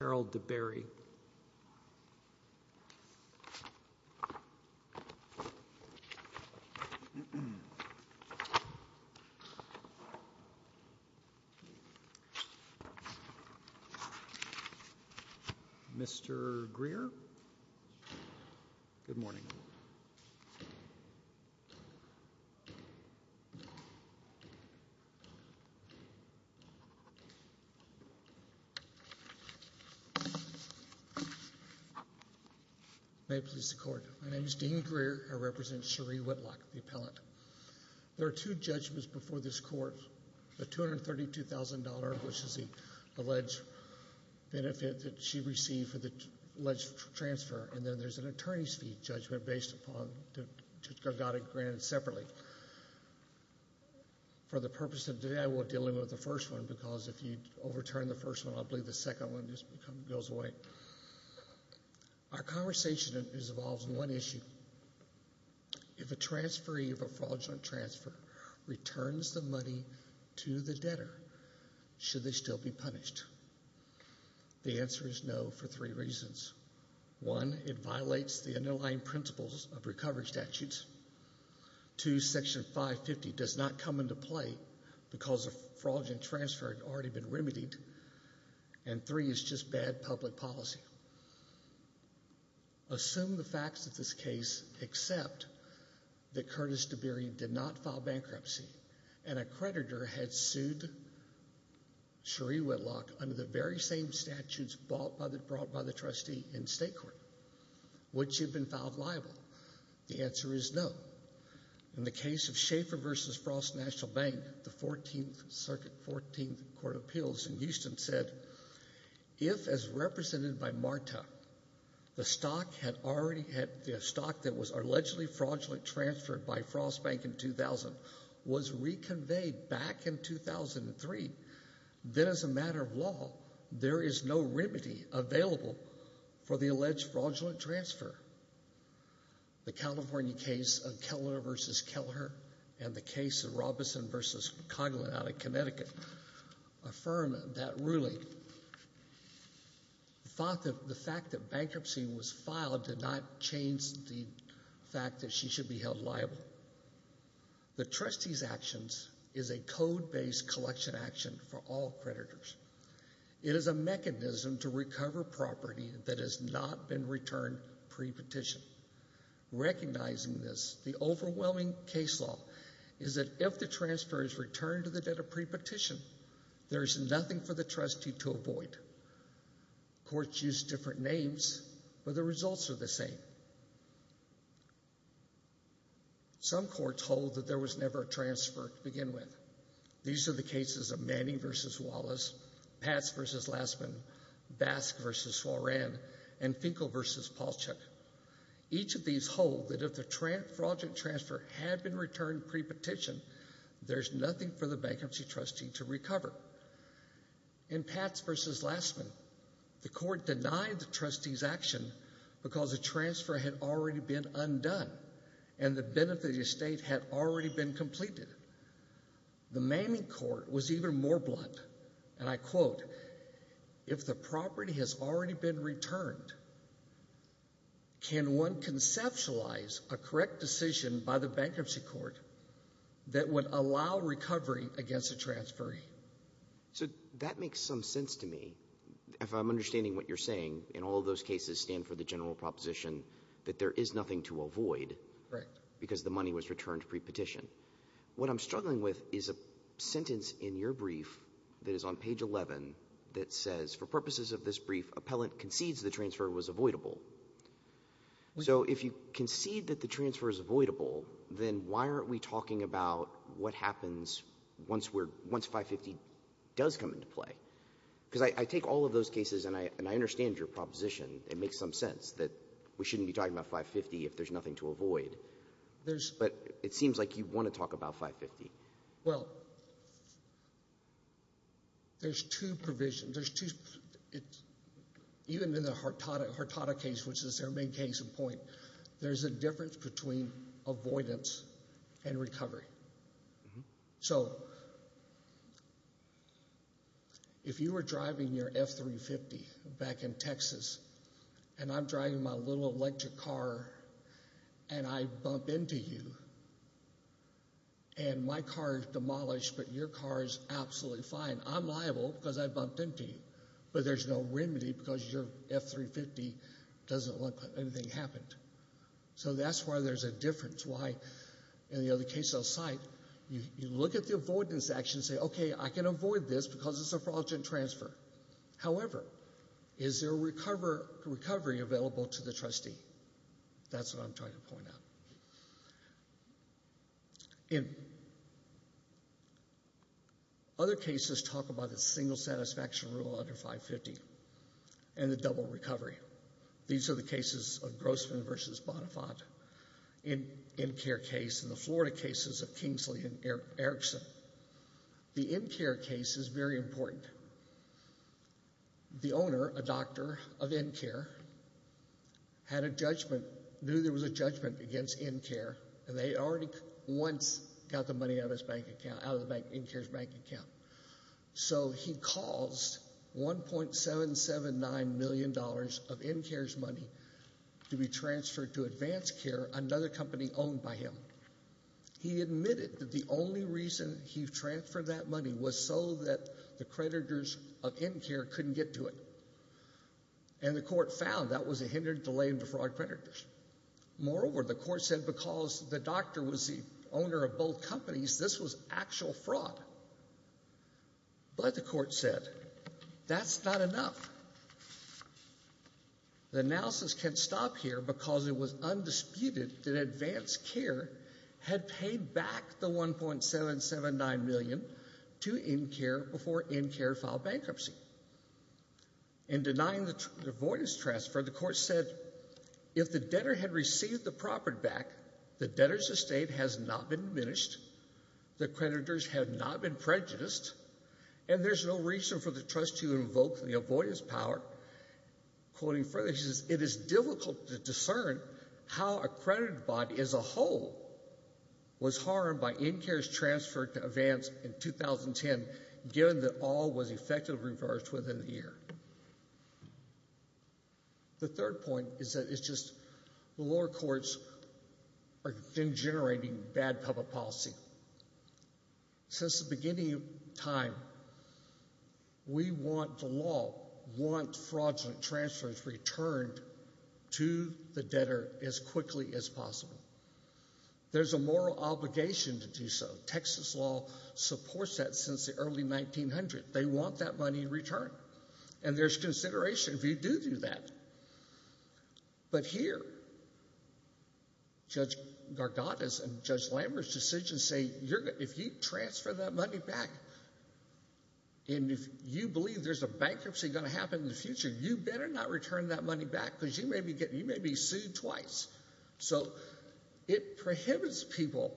Harold DeBerry May it please the court. My name is Dean Greer. I represent Sheri Whitlock, the appellant. There are two judgments before this court. The $232,000, which is the alleged benefit that she received for the alleged transfer, and then there's an attorney's fee judgment based upon the granted separately. For the purpose of today, I won't deal with the first one because if you overturn the first one, I believe the second one just goes away. Our conversation involves one issue. If a transferee of a fraudulent transfer returns the money to the debtor, should they still be punished? The answer is no for three reasons. One, it violates the underlying principles of recovery statutes. Two, Section 550 does not come into play because a fraudulent transfer had already been remedied, and three, it's just bad public policy. Assume the facts of this case except that Curtis DeBerry did not file bankruptcy and a creditor had sued Sheri Whitlock under the very same statutes brought by the trustee in state court. Would she have been filed liable? The answer is no. In the case of Schaefer versus Frost National Bank, the 14th Circuit, 14th Court of Appeals in Houston said, if as represented by Marta, the stock that was allegedly fraudulently transferred by Frost Bank in 2000 was reconveyed back in 2003, then as a matter of law, there is no remedy available for the alleged fraudulent transfer. The California case of Keller versus Keller and the case of Robeson versus Coghlan out of Connecticut affirm that ruling. The fact that bankruptcy was filed did not change the fact that she should be held liable. The trustee's actions is a code-based collection action for all creditors. It is a mechanism to recover property that has not been returned pre-petition. Recognizing this, the overwhelming case law is that if the transfer is returned to the debtor pre-petition, there's nothing for the trustee to avoid. Courts use different names, but the results are the same. Some courts hold that there was never a transfer to begin with. These are the cases of Manning versus Wallace, Patz versus Lassman, Basque versus Soran, and Finkel versus Palchuk. Each of these hold that if the fraudulent transfer had been returned pre-petition, there's nothing for the bankruptcy trustee to recover. In Patz versus Lassman, the court denied the trustee's action because the transfer had already been undone and the benefit of the estate had already been completed. The Manning court was even more blunt, and I quote, if the property has already been returned, can one conceptualize a correct decision by the bankruptcy court that would allow recovery against a transferee? So that makes some sense to me. If I'm understanding what you're saying, in all those cases stand for the general proposition that there is nothing to avoid because the money was returned pre-petition. What I'm struggling with is a sentence in your brief that is on page eleven that says, for purposes of this brief, appellant concedes the transfer was avoidable. So if you concede that the transfer is avoidable, then why aren't we talking about what happens once 550 does come into play? Because I take all of those cases and I understand your proposition. It makes some sense that we shouldn't be talking about 550 if there's nothing to avoid, but it seems like you want to talk about 550. Well, there's two provisions. There's two, even in the Hurtado case, which is their main case in point, there's a difference between avoidance and recovery. So if you were driving your F-350 back in Texas and I'm driving my little electric car and I bump into you and my car is demolished, but your car is absolutely fine, I'm liable because I bumped into you, but there's no remedy because your F-350 doesn't look like anything happened. So that's why there's a difference. Why, in the other cases I'll cite, you look at the avoidance action and say, okay, I can avoid this because it's a fraudulent transfer. However, is there a recovery available to the In other cases, talk about the single satisfaction rule under 550 and the double recovery. These are the cases of Grossman versus Bonafant, in NCARE case, in the Florida cases of Kingsley and Erickson. The NCARE case is very important. The owner, a doctor of NCARE, had a judgment, knew there was a judgment against NCARE and they already once got the money out of NCARE's bank account. So he caused 1.779 million dollars of NCARE's money to be transferred to Advance Care, another company owned by him. He admitted that the only reason he transferred that money was so that the creditors of NCARE couldn't get to it. And the court found that was a hindered delay in the fraud creditors. Moreover, the court said because the doctor was the owner of both companies, this was actual fraud. But the court said, that's not enough. The analysis can't stop here because it was undisputed that Advance Care had paid back the 1.779 million to NCARE before NCARE filed bankruptcy. In denying the avoidance transfer, the court said, if the debtor had received the property back, the debtor's estate has not been diminished, the creditors have not been prejudiced, and there's no reason for the trustee to invoke the avoidance power. Quoting further, it is difficult to discern how a credit body as a whole was harmed by NCARE's transfer to Advance in 2010, given that all was effectively reversed within a year. The third point is that it's just the lower courts are generating bad public policy. Since the beginning of time, we want the law to want fraudulent transfers returned to the debtor as quickly as possible. There's a moral obligation to do so. Texas law supports that since the early 1900s. They want that money returned, and there's consideration if you do do that. But here, Judge Gargantas and Judge Lambert's decision say, if you transfer that money back, and if you believe there's a bankruptcy going to happen in the future, you better not return that money back because you may be sued twice. So it prohibits people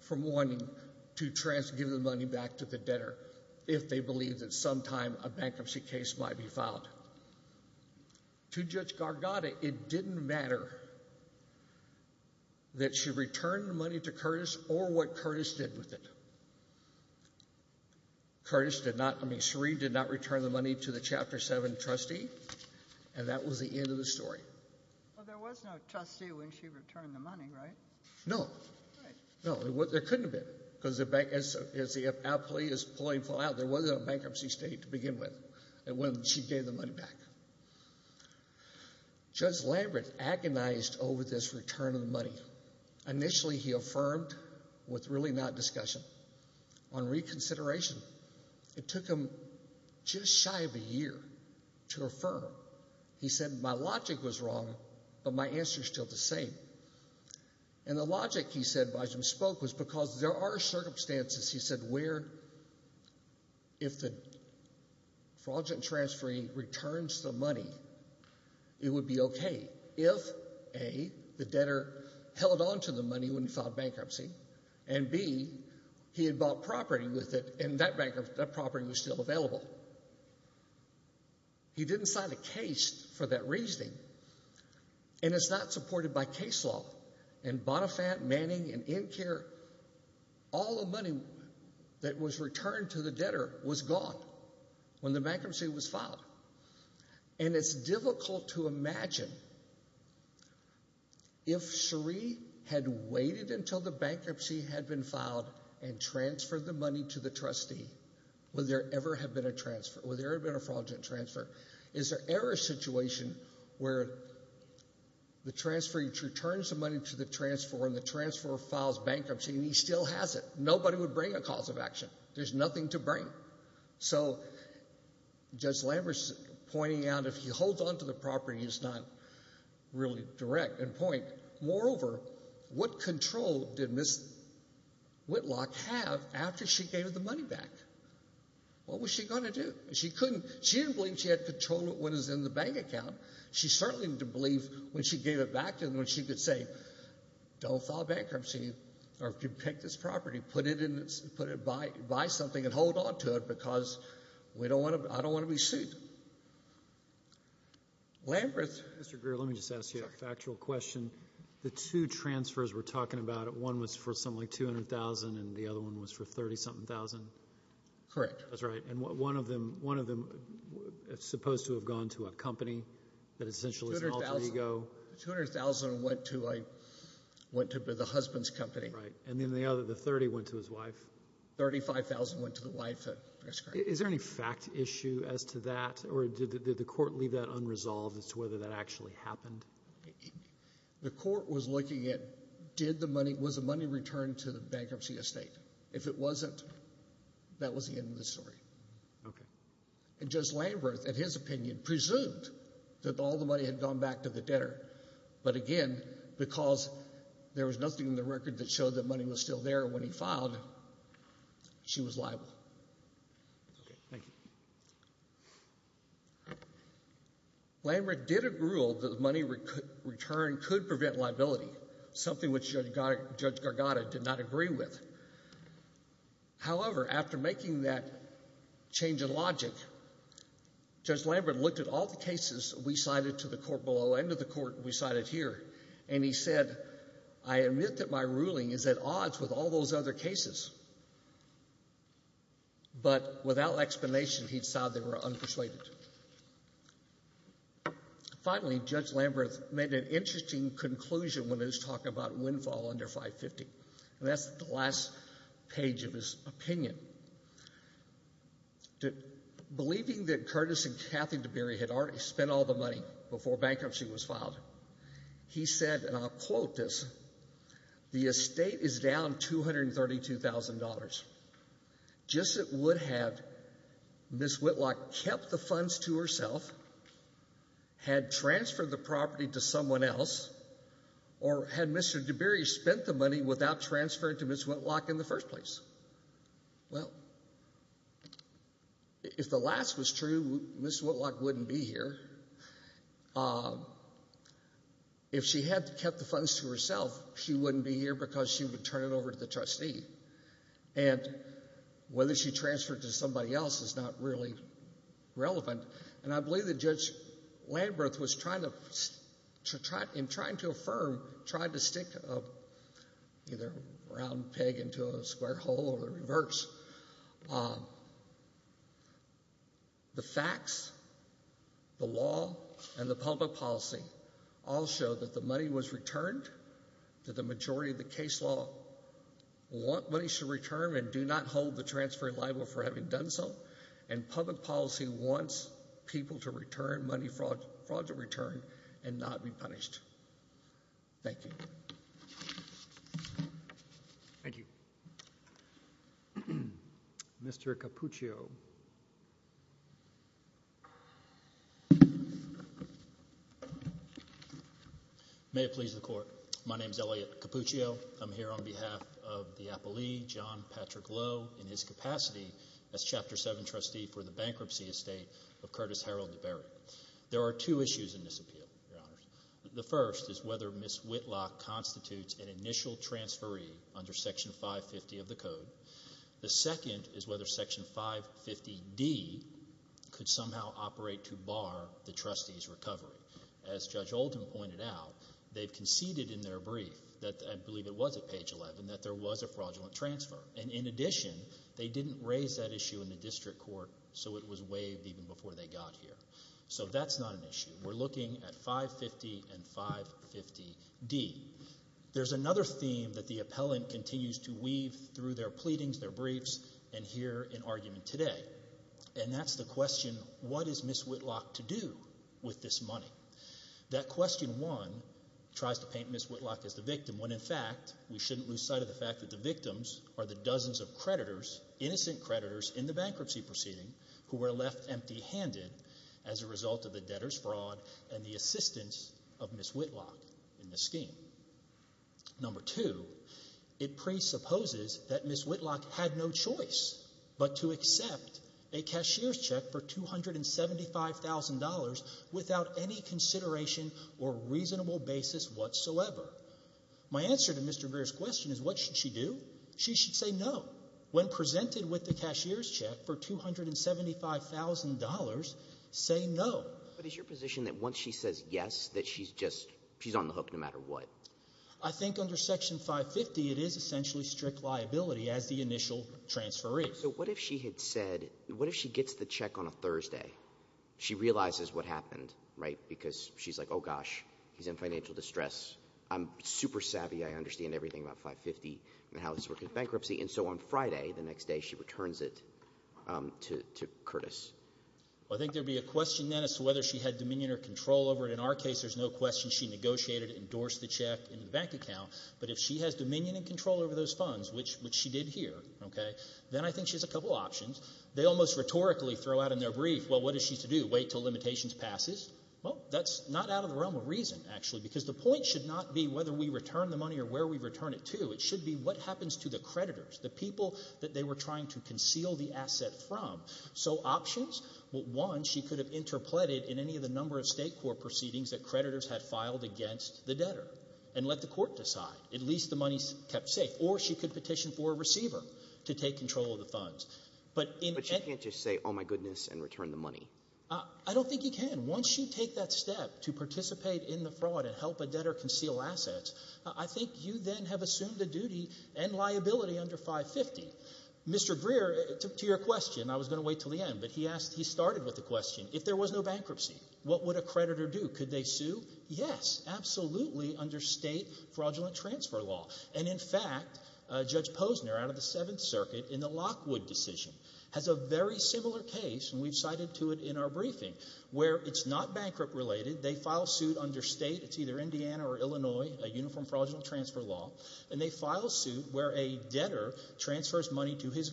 from wanting to give the money back to the debtor if they believe that sometime a bankruptcy case might be filed. To Judge Garganta, it didn't matter that she returned the money to Curtis or what Curtis did with it. Curtis did not, I mean, Sheree did not return the money to the Chapter 7 trustee, and that was the end of the story. Well, there was no trustee when she returned the money, right? No. No, there couldn't have been, because as the outplay is pulling full out, there wasn't a bankruptcy state to begin with when she gave the money back. Judge Lambert agonized over this return of the money. Initially, he affirmed with really not discussion. On reconsideration, it took him just shy of a year to affirm. He said, my logic was wrong, but my answer is still the same. And the logic, he said, by which he spoke, was because there are circumstances, he said, where if the fraudulent transferee returns the money, it would be okay if, A, the debtor held on to the money when he filed bankruptcy, and, B, he had bought property with it, and that property was still available. He didn't sign a case for that reasoning, and it's not supported by case law. In Bonifant, Manning, and Incare, all the money that was returned to the debtor was gone when the bankruptcy was filed, and it's difficult to imagine if Sheree had waited until the bankruptcy had been filed and transferred the money to the trustee, would there ever have been a transfer? Would there have been a fraudulent transfer? Is there ever a situation where the transferee returns the money to the transferer and the transferer files bankruptcy and he still has it? Nobody would bring a cause of action. There's nothing to bring. So Judge Lambert's pointing out if he holds on to the property, he's not really direct and point. Moreover, what control did Ms. Whitlock have after she gave the money back? What was she going to do? She couldn't. She didn't believe she had control when it was in the bank account. She certainly didn't believe when she gave it back to him when she could say, don't file bankruptcy, or if you take this property, put it in, put it, buy something, and hold on to it because we don't want to, I don't want to be sued. Lambert. Mr. Greer, let me just ask you a factual question. The two transfers we're talking about, one was for something like $200,000 and the other one was for $30-something thousand? Correct. That's right. And one of them, one of them was supposed to have gone to a company that essentially is an alter ego. $200,000 went to a, went to the husband's company. Right. And then the other, the $30,000 went to his wife. $35,000 went to the wife. That's correct. Is there any fact issue as to that or did the court leave that unresolved as to whether that actually happened? The court was looking at did the money, was the money returned to the bankruptcy estate? If it wasn't, that was the end of the story. Okay. And Judge Lambert, in his opinion, presumed that all the money had gone back to the debtor. But again, because there was nothing in the record that showed that money was still there when he filed, she was liable. Okay. Thank you. Lambert did agree that the money returned could prevent liability, something which Judge Gargatta did not agree with. However, after making that change in logic, Judge Lambert looked at all the cases we cited to the court below and to the court we cited here, and he said, I admit that my ruling is at odds with all those other cases. But without explanation, he decided they were unpersuaded. Finally, Judge Lambert made an interesting conclusion when he was talking about windfall under 550. And that's the last page of his opinion. Believing that Curtis and Kathy DeBerry had already spent all the money before bankruptcy was filed, he said, and I'll quote this, the estate is down $232,000. Just as it would have, Ms. Whitlock kept the funds to herself, had transferred the property to someone else, or had Mr. DeBerry spent the money without transferring to Ms. Whitlock in the first place. Well, if the last was true, Ms. Whitlock wouldn't be here. If she had kept the funds to herself, she wouldn't be here because she would turn it over to the trustee. And whether she transferred to somebody else is not really relevant. And I believe that Judge Lambert was trying to, in trying to affirm, tried to stick a either round peg into a square hole or the reverse. The facts, the law, and the public policy all show that the money was returned to the majority of the case law. What money should return and do not hold the transfer liable for having done so. And public policy wants people to return money fraud to return and not be punished. Thank you. Thank you. Mr. Capuccio. May it please the court. My name is Elliot Capuccio. I'm here on behalf of the appellee, John Patrick Lowe, in his capacity as Chapter 7 trustee for the bankruptcy estate of Curtis Harold DeBerry. There are two issues in this appeal, Your Honors. The first is whether Ms. Whitlock constitutes an initial transferee under Section 550 of the Code. The second is whether Section 550D could somehow operate to bar the trustee's recovery. As Judge Oldham pointed out, they've conceded in their brief that, I believe it was at page 11, that there was a fraudulent transfer. And in addition, they didn't raise that issue in the district court so it was waived even before they got here. So that's not an issue. We're looking at 550 and 550D. There's another theme that the appellant continues to weave through their pleadings, their briefs, and here in argument today. And that's the question, what is Ms. Whitlock to do with this money? That question, one, tries to paint Ms. Whitlock as the victim when, in fact, we shouldn't lose sight of the fact that the victims are the dozens of creditors, innocent creditors, in the bankruptcy proceeding who were left empty-handed as a result of the debtor's fraud and the assistance of Ms. Whitlock in the scheme. Number two, it presupposes that Ms. Whitlock had no choice but to accept a cashier's check for $275,000 without any consideration or reasonable basis whatsoever. My answer to Mr. Greer's question is, what should she do? She should say no. When presented with the cashier's check for $275,000, say no. But is your position that once she says yes, that she's just, she's on the hook no matter what? I think under Section 550, it is essentially strict liability as the initial transferee. So what if she had said, what if she gets the check on a Thursday? She realizes what happened, right? Because she's like, oh gosh, he's in financial distress. I'm super savvy. I understand everything about 550 and how this works in bankruptcy. And so on Friday, the next day, she returns it to Curtis. Well, I think there'd be a question then as to whether she had dominion or control over it. In our case, there's no question she negotiated, endorsed the check in the bank account. But if she has dominion and control over those funds, which she did here, okay, then I think she has a couple options. They almost rhetorically throw out in their brief, well, what is she to do? Wait until limitations passes? Well, that's not out of the realm of reason, actually, because the point should not be whether we return the money or where we return it to. It should be what happens to the creditors, the people that they were trying to conceal the asset from. So options? Well, one, she could have interpreted in any of the number of state court proceedings that creditors had filed against the debtor and let the court decide. At least the money's kept safe. Or she could petition for a receiver to take control of the funds. But in— But she can't just say, oh, my goodness, and return the money. I don't think you can. Once you take that step to participate in the fraud and help a debtor conceal assets, I think you then have assumed the duty and liability under 550. Mr. Greer, to your question, I was going to wait till the end, but he asked, he started with the question, if there was no bankruptcy, what would a creditor do? Could they sue? Yes, absolutely, under state fraudulent transfer law. And in fact, Judge Posner, out of the Seventh Circuit, in the Lockwood decision, has a very similar case, and we've cited to it in our briefing, where it's not bankrupt-related. They file suit under state. It's either Indiana or Illinois, a uniform fraudulent transfer law. And they file suit where a debtor transfers money to his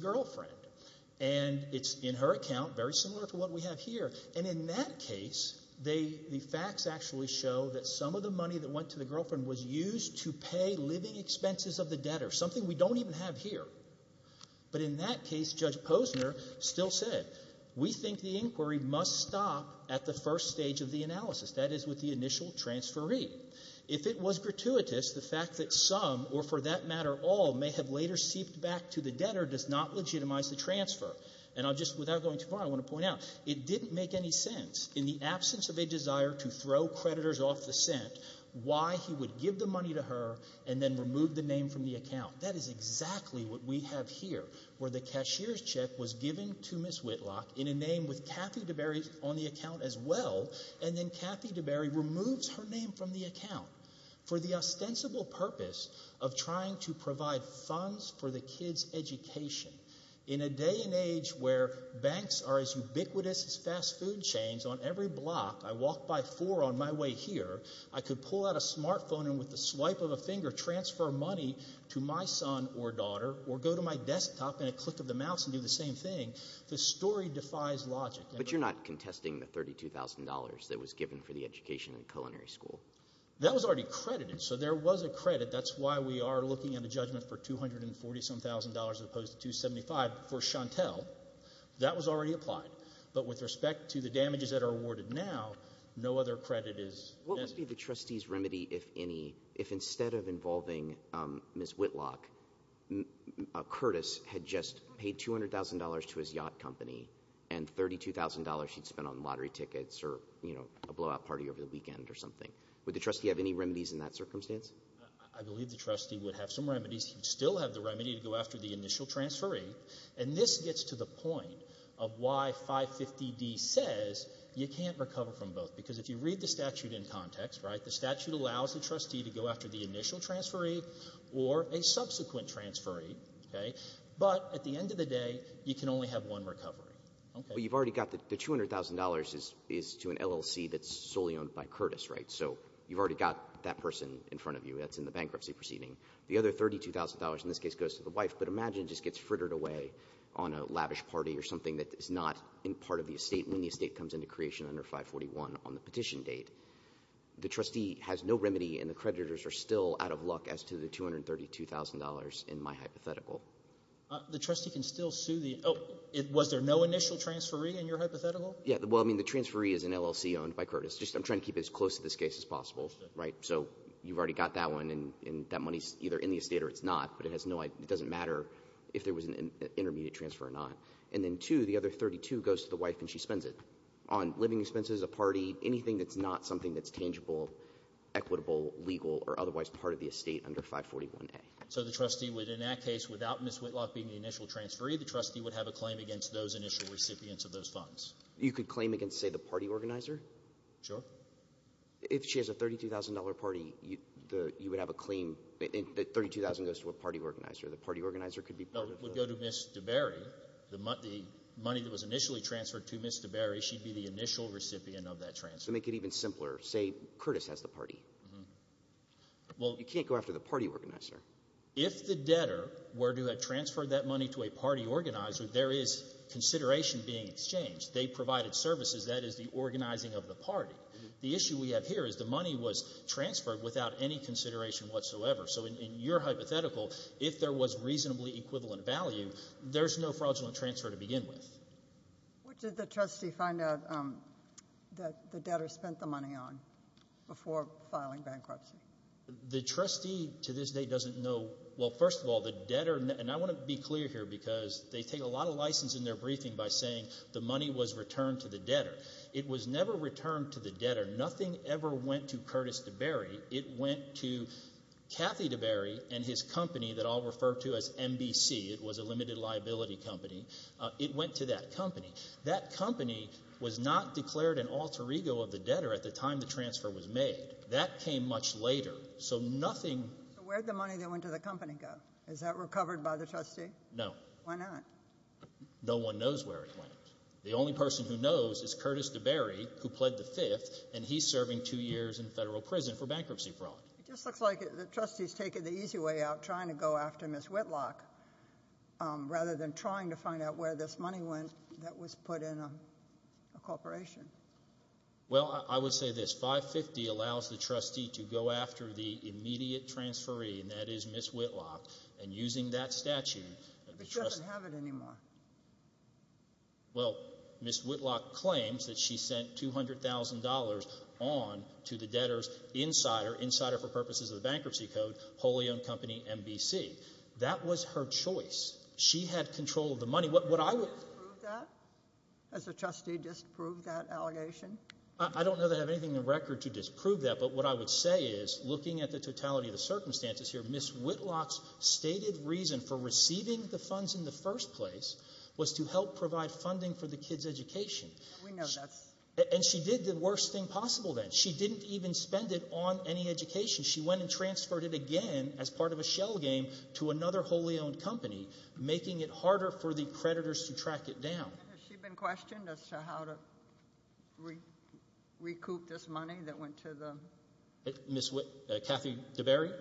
In that case, the facts actually show that some of the money that went to the girlfriend was used to pay living expenses of the debtor, something we don't even have here. But in that case, Judge Posner still said, we think the inquiry must stop at the first stage of the analysis, that is, with the initial transferee. If it was gratuitous, the fact that some, or for that matter all, may have later seeped back to the debtor does not legitimize the transfer. And I'll just, without going too far, I want to point out, it didn't make any sense, in the absence of a desire to throw creditors off the scent, why he would give the money to her and then remove the name from the account. That is exactly what we have here, where the cashier's check was given to Ms. Whitlock in a name with Kathy DeBerry on the account as well, and then Kathy DeBerry removes her name from the account for the ostensible purpose of trying to banks are as ubiquitous as fast food chains. On every block, I walk by four on my way here, I could pull out a smartphone and with the swipe of a finger transfer money to my son or daughter, or go to my desktop and a click of the mouse and do the same thing. The story defies logic. But you're not contesting the $32,000 that was given for the education at the culinary school. That was already credited, so there was a credit. That's why we are looking at a that was already applied, but with respect to the damages that are awarded now, no other credit is. What would be the trustee's remedy, if any, if instead of involving Ms. Whitlock, Curtis had just paid $200,000 to his yacht company and $32,000 she'd spent on lottery tickets or, you know, a blowout party over the weekend or something. Would the trustee have any remedies in that circumstance? I believe the trustee would have some remedies. He would still have the remedy to go after the initial transferee, and this gets to the point of why 550D says you can't recover from both, because if you read the statute in context, right, the statute allows the trustee to go after the initial transferee or a subsequent transferee, okay? But at the end of the day, you can only have one recovery. Okay. But you've already got the $200,000 is to an LLC that's solely owned by Curtis, right? So you've already got that person in front of you that's in $232,000, in this case goes to the wife, but imagine it just gets frittered away on a lavish party or something that is not in part of the estate when the estate comes into creation under 541 on the petition date. The trustee has no remedy, and the creditors are still out of luck as to the $232,000 in my hypothetical. The trustee can still sue the — oh, was there no initial transferee in your hypothetical? Yeah. Well, I mean, the transferee is an LLC owned by Curtis. Just I'm trying to keep it as close to this case as possible, right? So you've already got that and that money is either in the estate or it's not, but it has no — it doesn't matter if there was an intermediate transfer or not. And then, two, the other $32,000 goes to the wife and she spends it on living expenses, a party, anything that's not something that's tangible, equitable, legal, or otherwise part of the estate under 541A. So the trustee would, in that case, without Ms. Whitlock being the initial transferee, the trustee would have a claim against those initial recipients of those funds? You could claim against, say, the party organizer. Sure. If she has a $32,000 party, you would have a claim that $32,000 goes to a party organizer. The party organizer could be part of the — Would go to Ms. DeBerry. The money that was initially transferred to Ms. DeBerry, she'd be the initial recipient of that transfer. To make it even simpler, say, Curtis has the party. Well — You can't go after the party organizer. If the debtor were to have transferred that money to a party organizer, there is consideration being exchanged. They provided services. That is the organizing of the party. The issue we have here is the money was transferred without any consideration whatsoever. So in your hypothetical, if there was reasonably equivalent value, there's no fraudulent transfer to begin with. What did the trustee find out that the debtor spent the money on before filing bankruptcy? The trustee to this day doesn't know — well, first of all, the debtor — and I want to be clear here because they take a lot of license in their briefing by saying the money was returned to the debtor. It was never returned to the debtor. Nothing ever went to Curtis DeBerry. It went to Kathy DeBerry and his company that I'll refer to as MBC. It was a limited liability company. It went to that company. That company was not declared an alter ego of the debtor at the time the transfer was made. That came much later. So nothing — So where'd the money that went to the company go? Is that recovered by the trustee? No. Why not? No one knows where it went. The only person who knows is Curtis DeBerry, who pled the fifth, and he's serving two years in federal prison for bankruptcy fraud. It just looks like the trustee's taking the easy way out, trying to go after Ms. Whitlock rather than trying to find out where this money went that was put in a corporation. Well, I would say this. 550 allows the trustee to go after the immediate transferee, and that is Ms. Whitlock, and using that statute — But she doesn't have it anymore. Well, Ms. Whitlock claims that she sent $200,000 on to the debtor's insider, insider for purposes of the Bankruptcy Code, wholly-owned company MBC. That was her choice. She had control of the money. What I would — Has the trustee disproved that allegation? I don't know that I have anything in record to disprove that, but what I would say is, looking at the totality of the circumstances here, Ms. Whitlock's stated reason for receiving the funds in the first place was to help provide funding for the kids' education. We know that's — And she did the worst thing possible then. She didn't even spend it on any education. She went and transferred it again as part of a shell game to another wholly-owned company, making it harder for the creditors to track it down. Has she been questioned as to how to recoup this money that went to the — Ms. Whit — Kathy DeBerry?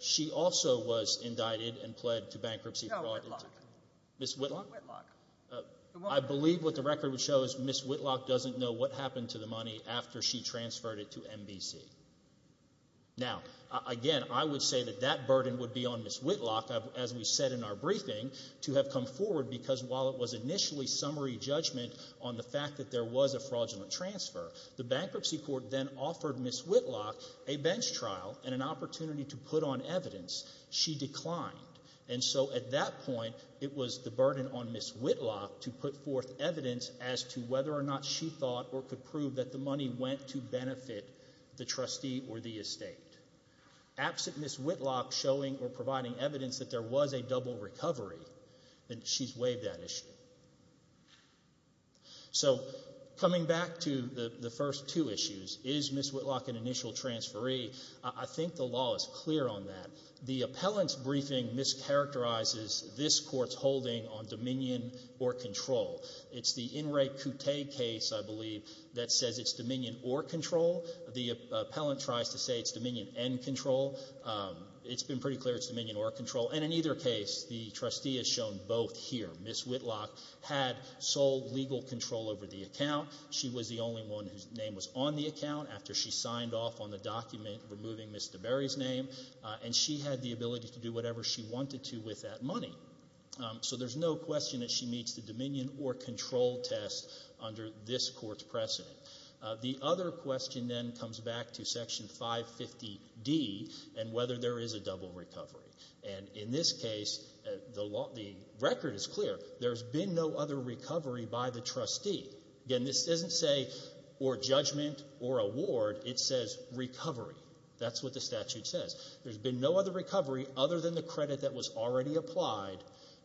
She also was indicted and pled to bankruptcy — No, Whitlock. Ms. Whitlock? Ms. Whitlock. I believe what the record would show is Ms. Whitlock doesn't know what happened to the money after she transferred it to MBC. Now, again, I would say that that burden would be on Ms. Whitlock, as we said in our briefing, to have come forward because while it was initially summary judgment on the fact that there was a fraudulent transfer, the Bankruptcy Court then offered Ms. Whitlock a bench trial and an opportunity to put on evidence. She declined. And so at that point, it was the burden on Ms. Whitlock to put forth evidence as to whether or not she thought or could prove that the money went to benefit the trustee or the estate. Absent Ms. Whitlock showing or providing evidence that there was a double recovery, then she's waived that issue. So, coming back to the first two issues, is Ms. Whitlock an initial transferee? I think the law is clear on that. The appellant's briefing mischaracterizes this court's holding on dominion or control. It's the In Re Coutte case, I believe, that says it's dominion or control. The appellant tries to say it's dominion and control. It's been pretty clear it's dominion or control. And in either case, the trustee is shown both here. Ms. Whitlock had sole legal control over the account. She was the only one whose name was on the account after she signed off on the document removing Ms. DeBerry's name. And she had the ability to do whatever she wanted to with that money. So there's no question that she meets the dominion or control test under this court's precedent. The other question then comes back to Section 550D and whether there is a double recovery. And in this case, the record is clear. There's been no other recovery by the trustee. Again, this doesn't say or judgment or award. It says recovery. That's what the statute says. There's been no other recovery other than the credit that was already applied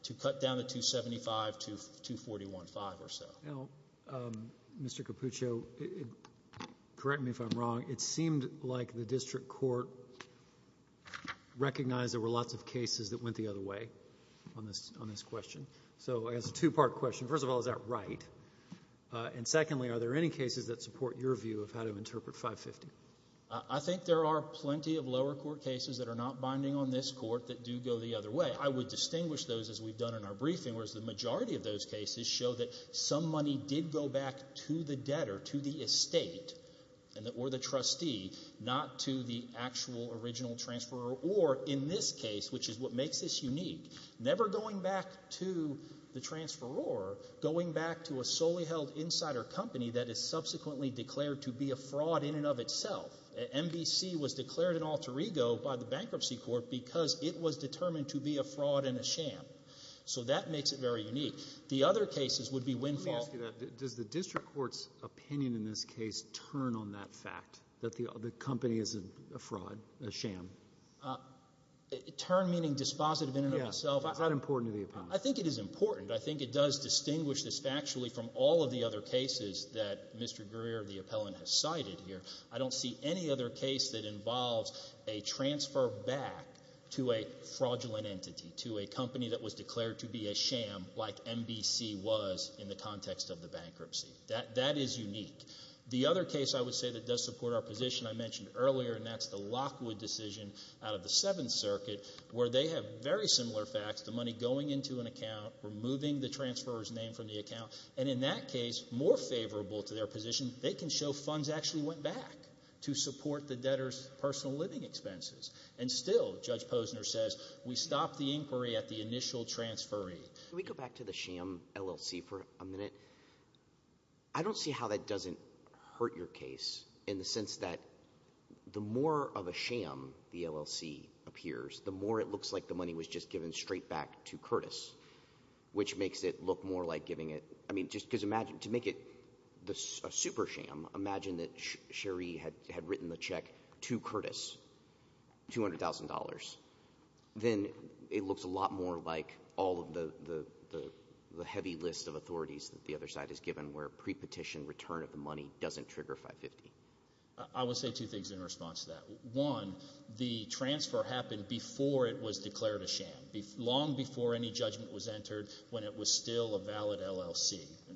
to cut down the 275 to 241-5 or so. Now, Mr. Cappuccio, correct me if I'm wrong, it seemed like the district court recognized there were lots of cases that went the other way on this question. So I guess it's a two-part question. First of all, is that right? And secondly, are there any cases that support your view of how to interpret 550? I think there are plenty of lower court cases that are not binding on this court that do go the other way. I would distinguish those as we've done in our briefing, whereas the majority of those cases show that some money did go back to the debtor, to the estate, or the trustee, not to the actual original transferor, or in this case, which is what makes this unique, never going back to the transferor, going back to a solely held insider company that is subsequently declared to be a fraud in and of itself. NBC was declared an alter ego by the bankruptcy court because it was determined to be a fraud and a sham. So that makes it very unique. The other cases would be windfall. Let me ask you that. Does the district court's opinion in this case turn on that fact, that the company is a fraud, a sham? Turn meaning dispositive in and of itself? Yes. Is that important to the appellant? I think it is important. I think it does distinguish this factually from all of the other cases that Mr. Greer, the appellant, has cited here. I don't see any other case that involves a transfer back to a fraudulent entity, to a company that was declared to be a sham like NBC was in the context of the bankruptcy. That is unique. The other case I would say that does support our position I mentioned earlier, and that's the Lockwood decision out of the Seventh Circuit, where they have very similar facts, the money going into an account, removing the transferor's name from the account, and in that case, more favorable to their position, they can show funds actually went back to support the debtor's personal living expenses. And still, Judge Posner says, we stopped the inquiry at the initial transferee. Can we go back to the sham LLC for a minute? I don't see how that doesn't hurt your case in the sense that the more of a sham the LLC appears, the more it looks like the money was just given straight back to Curtis, which makes it look more like giving it, I mean, just to make it a super sham, imagine that Cherie had written the check to Curtis, $200,000. Then it looks a lot more like all of the heavy list of authorities that the other side has given, where pre-petition return of the money doesn't trigger 550. I would say two things in response to that. One, the transfer happened before it was declared a LLC,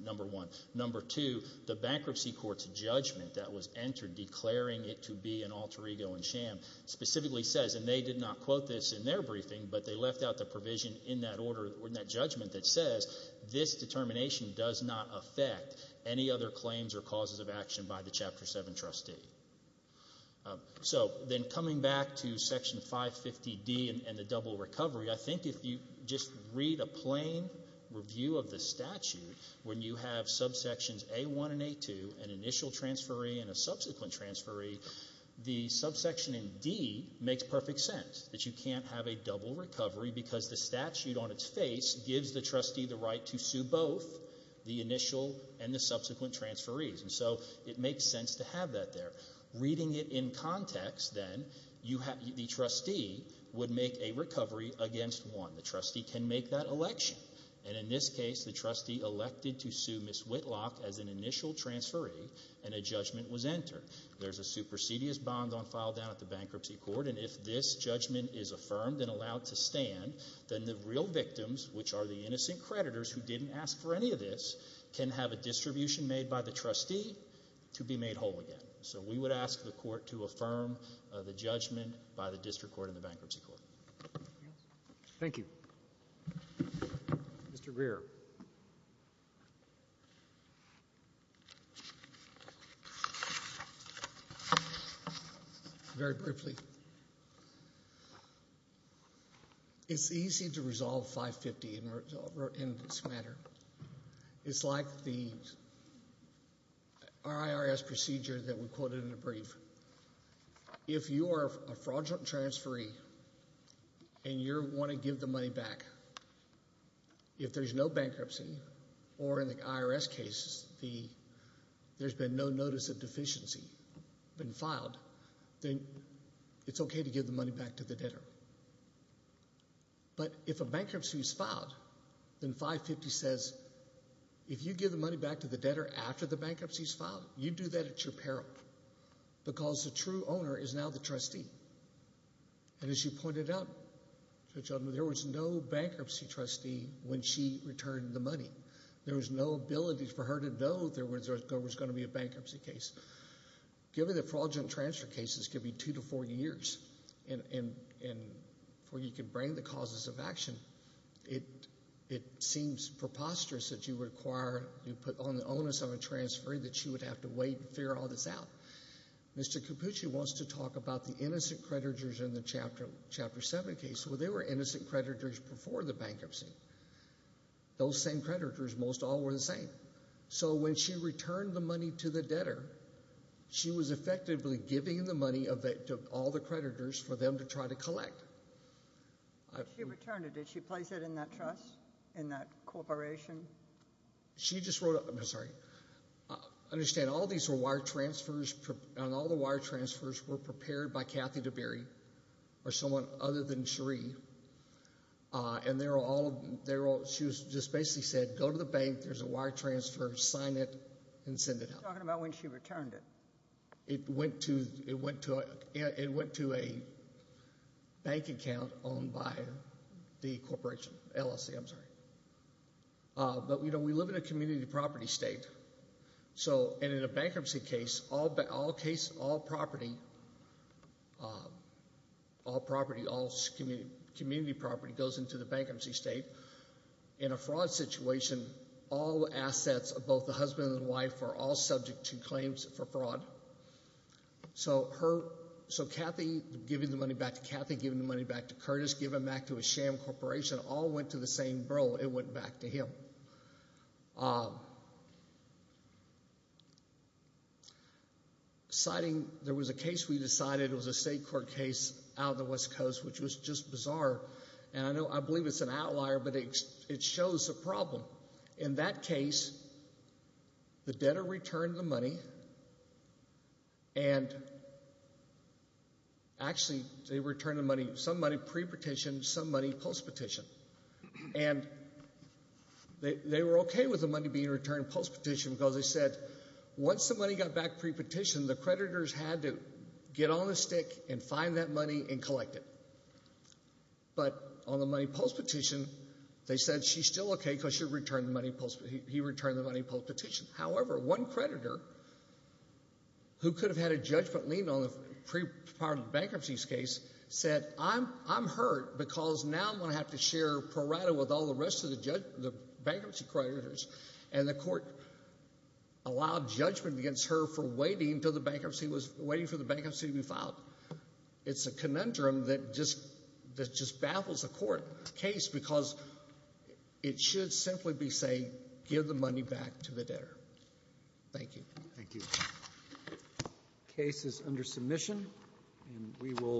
number one. Number two, the bankruptcy court's judgment that was entered declaring it to be an alter ego and sham specifically says, and they did not quote this in their briefing, but they left out the provision in that judgment that says this determination does not affect any other claims or causes of action by the Chapter 7 trustee. So then coming back to Section 550D and the double recovery, I think if you just read a plain review of the statute, when you have subsections A1 and A2, an initial transferee and a subsequent transferee, the subsection in D makes perfect sense, that you can't have a double recovery because the statute on its face gives the trustee the right to sue both the initial and the subsequent transferees. And so it makes sense to have that there. Reading it in context then, the trustee would make a recovery against one. The trustee can make that election, and in this case, the trustee elected to sue Ms. Whitlock as an initial transferee and a judgment was entered. There's a supersedious bond on file down at the bankruptcy court, and if this judgment is affirmed and allowed to stand, then the real victims, which are the innocent creditors who didn't ask for any of this, can have a distribution made by the trustee to be made again. So we would ask the court to affirm the judgment by the district court and the bankruptcy court. Thank you. Mr. Greer. Very briefly, it's easy to resolve 550 in this matter. It's like the that we quoted in the brief. If you are a fraudulent transferee and you want to give the money back, if there's no bankruptcy, or in the IRS case, there's been no notice of deficiency been filed, then it's okay to give the money back to the debtor. But if a bankruptcy is filed, then 550 says, if you give the money back to the debtor after the because the true owner is now the trustee. And as you pointed out, there was no bankruptcy trustee when she returned the money. There was no ability for her to know there was going to be a bankruptcy case. Given that fraudulent transfer cases can be two to four years, and before you can bring the causes of action, it seems preposterous that you require, you put on the onus of a transferee that would have to wait and figure all this out. Mr. Capucci wants to talk about the innocent creditors in the Chapter 7 case. Well, they were innocent creditors before the bankruptcy. Those same creditors, most all were the same. So when she returned the money to the debtor, she was effectively giving the money to all the creditors for them to try to collect. She returned it. Did she place it in that trust, in that corporation? She just wrote, I'm sorry, understand all these were wire transfers, and all the wire transfers were prepared by Kathy DeBerry or someone other than Cherie. And they're all, she just basically said, go to the bank, there's a wire transfer, sign it and send it out. She's talking about when she returned it. It went to a bank account owned by the corporation, LLC, I'm sorry. But, you know, we live in a community property state. So, and in a bankruptcy case, all property, all community property goes into the bankruptcy state. In a fraud situation, all assets of both the husband and wife are all subject to claims for fraud. So Kathy giving the money back to Kathy, giving the money back to Curtis, giving back to Sham Corporation, all went to the same bro, it went back to him. Citing, there was a case we decided, it was a state court case out of the West Coast, which was just bizarre. And I know, I believe it's an outlier, but it shows the problem. In that case, the debtor returned the money, and actually they returned the money, some money post-petition. And they were okay with the money being returned post-petition because they said, once the money got back pre-petition, the creditors had to get on the stick and find that money and collect it. But on the money post-petition, they said, she's still okay because he returned the money post-petition. However, one creditor, who could have had a judgment lien on pre-part of the bankruptcy's case, said, I'm hurt because now I'm going to have to share pro-rata with all the rest of the bankruptcy creditors. And the court allowed judgment against her for waiting for the bankruptcy to be filed. It's a conundrum that just baffles the court case because it should simply be saying, give the money back to the debtor. Thank you. Thank you. Case is under submission, and we will...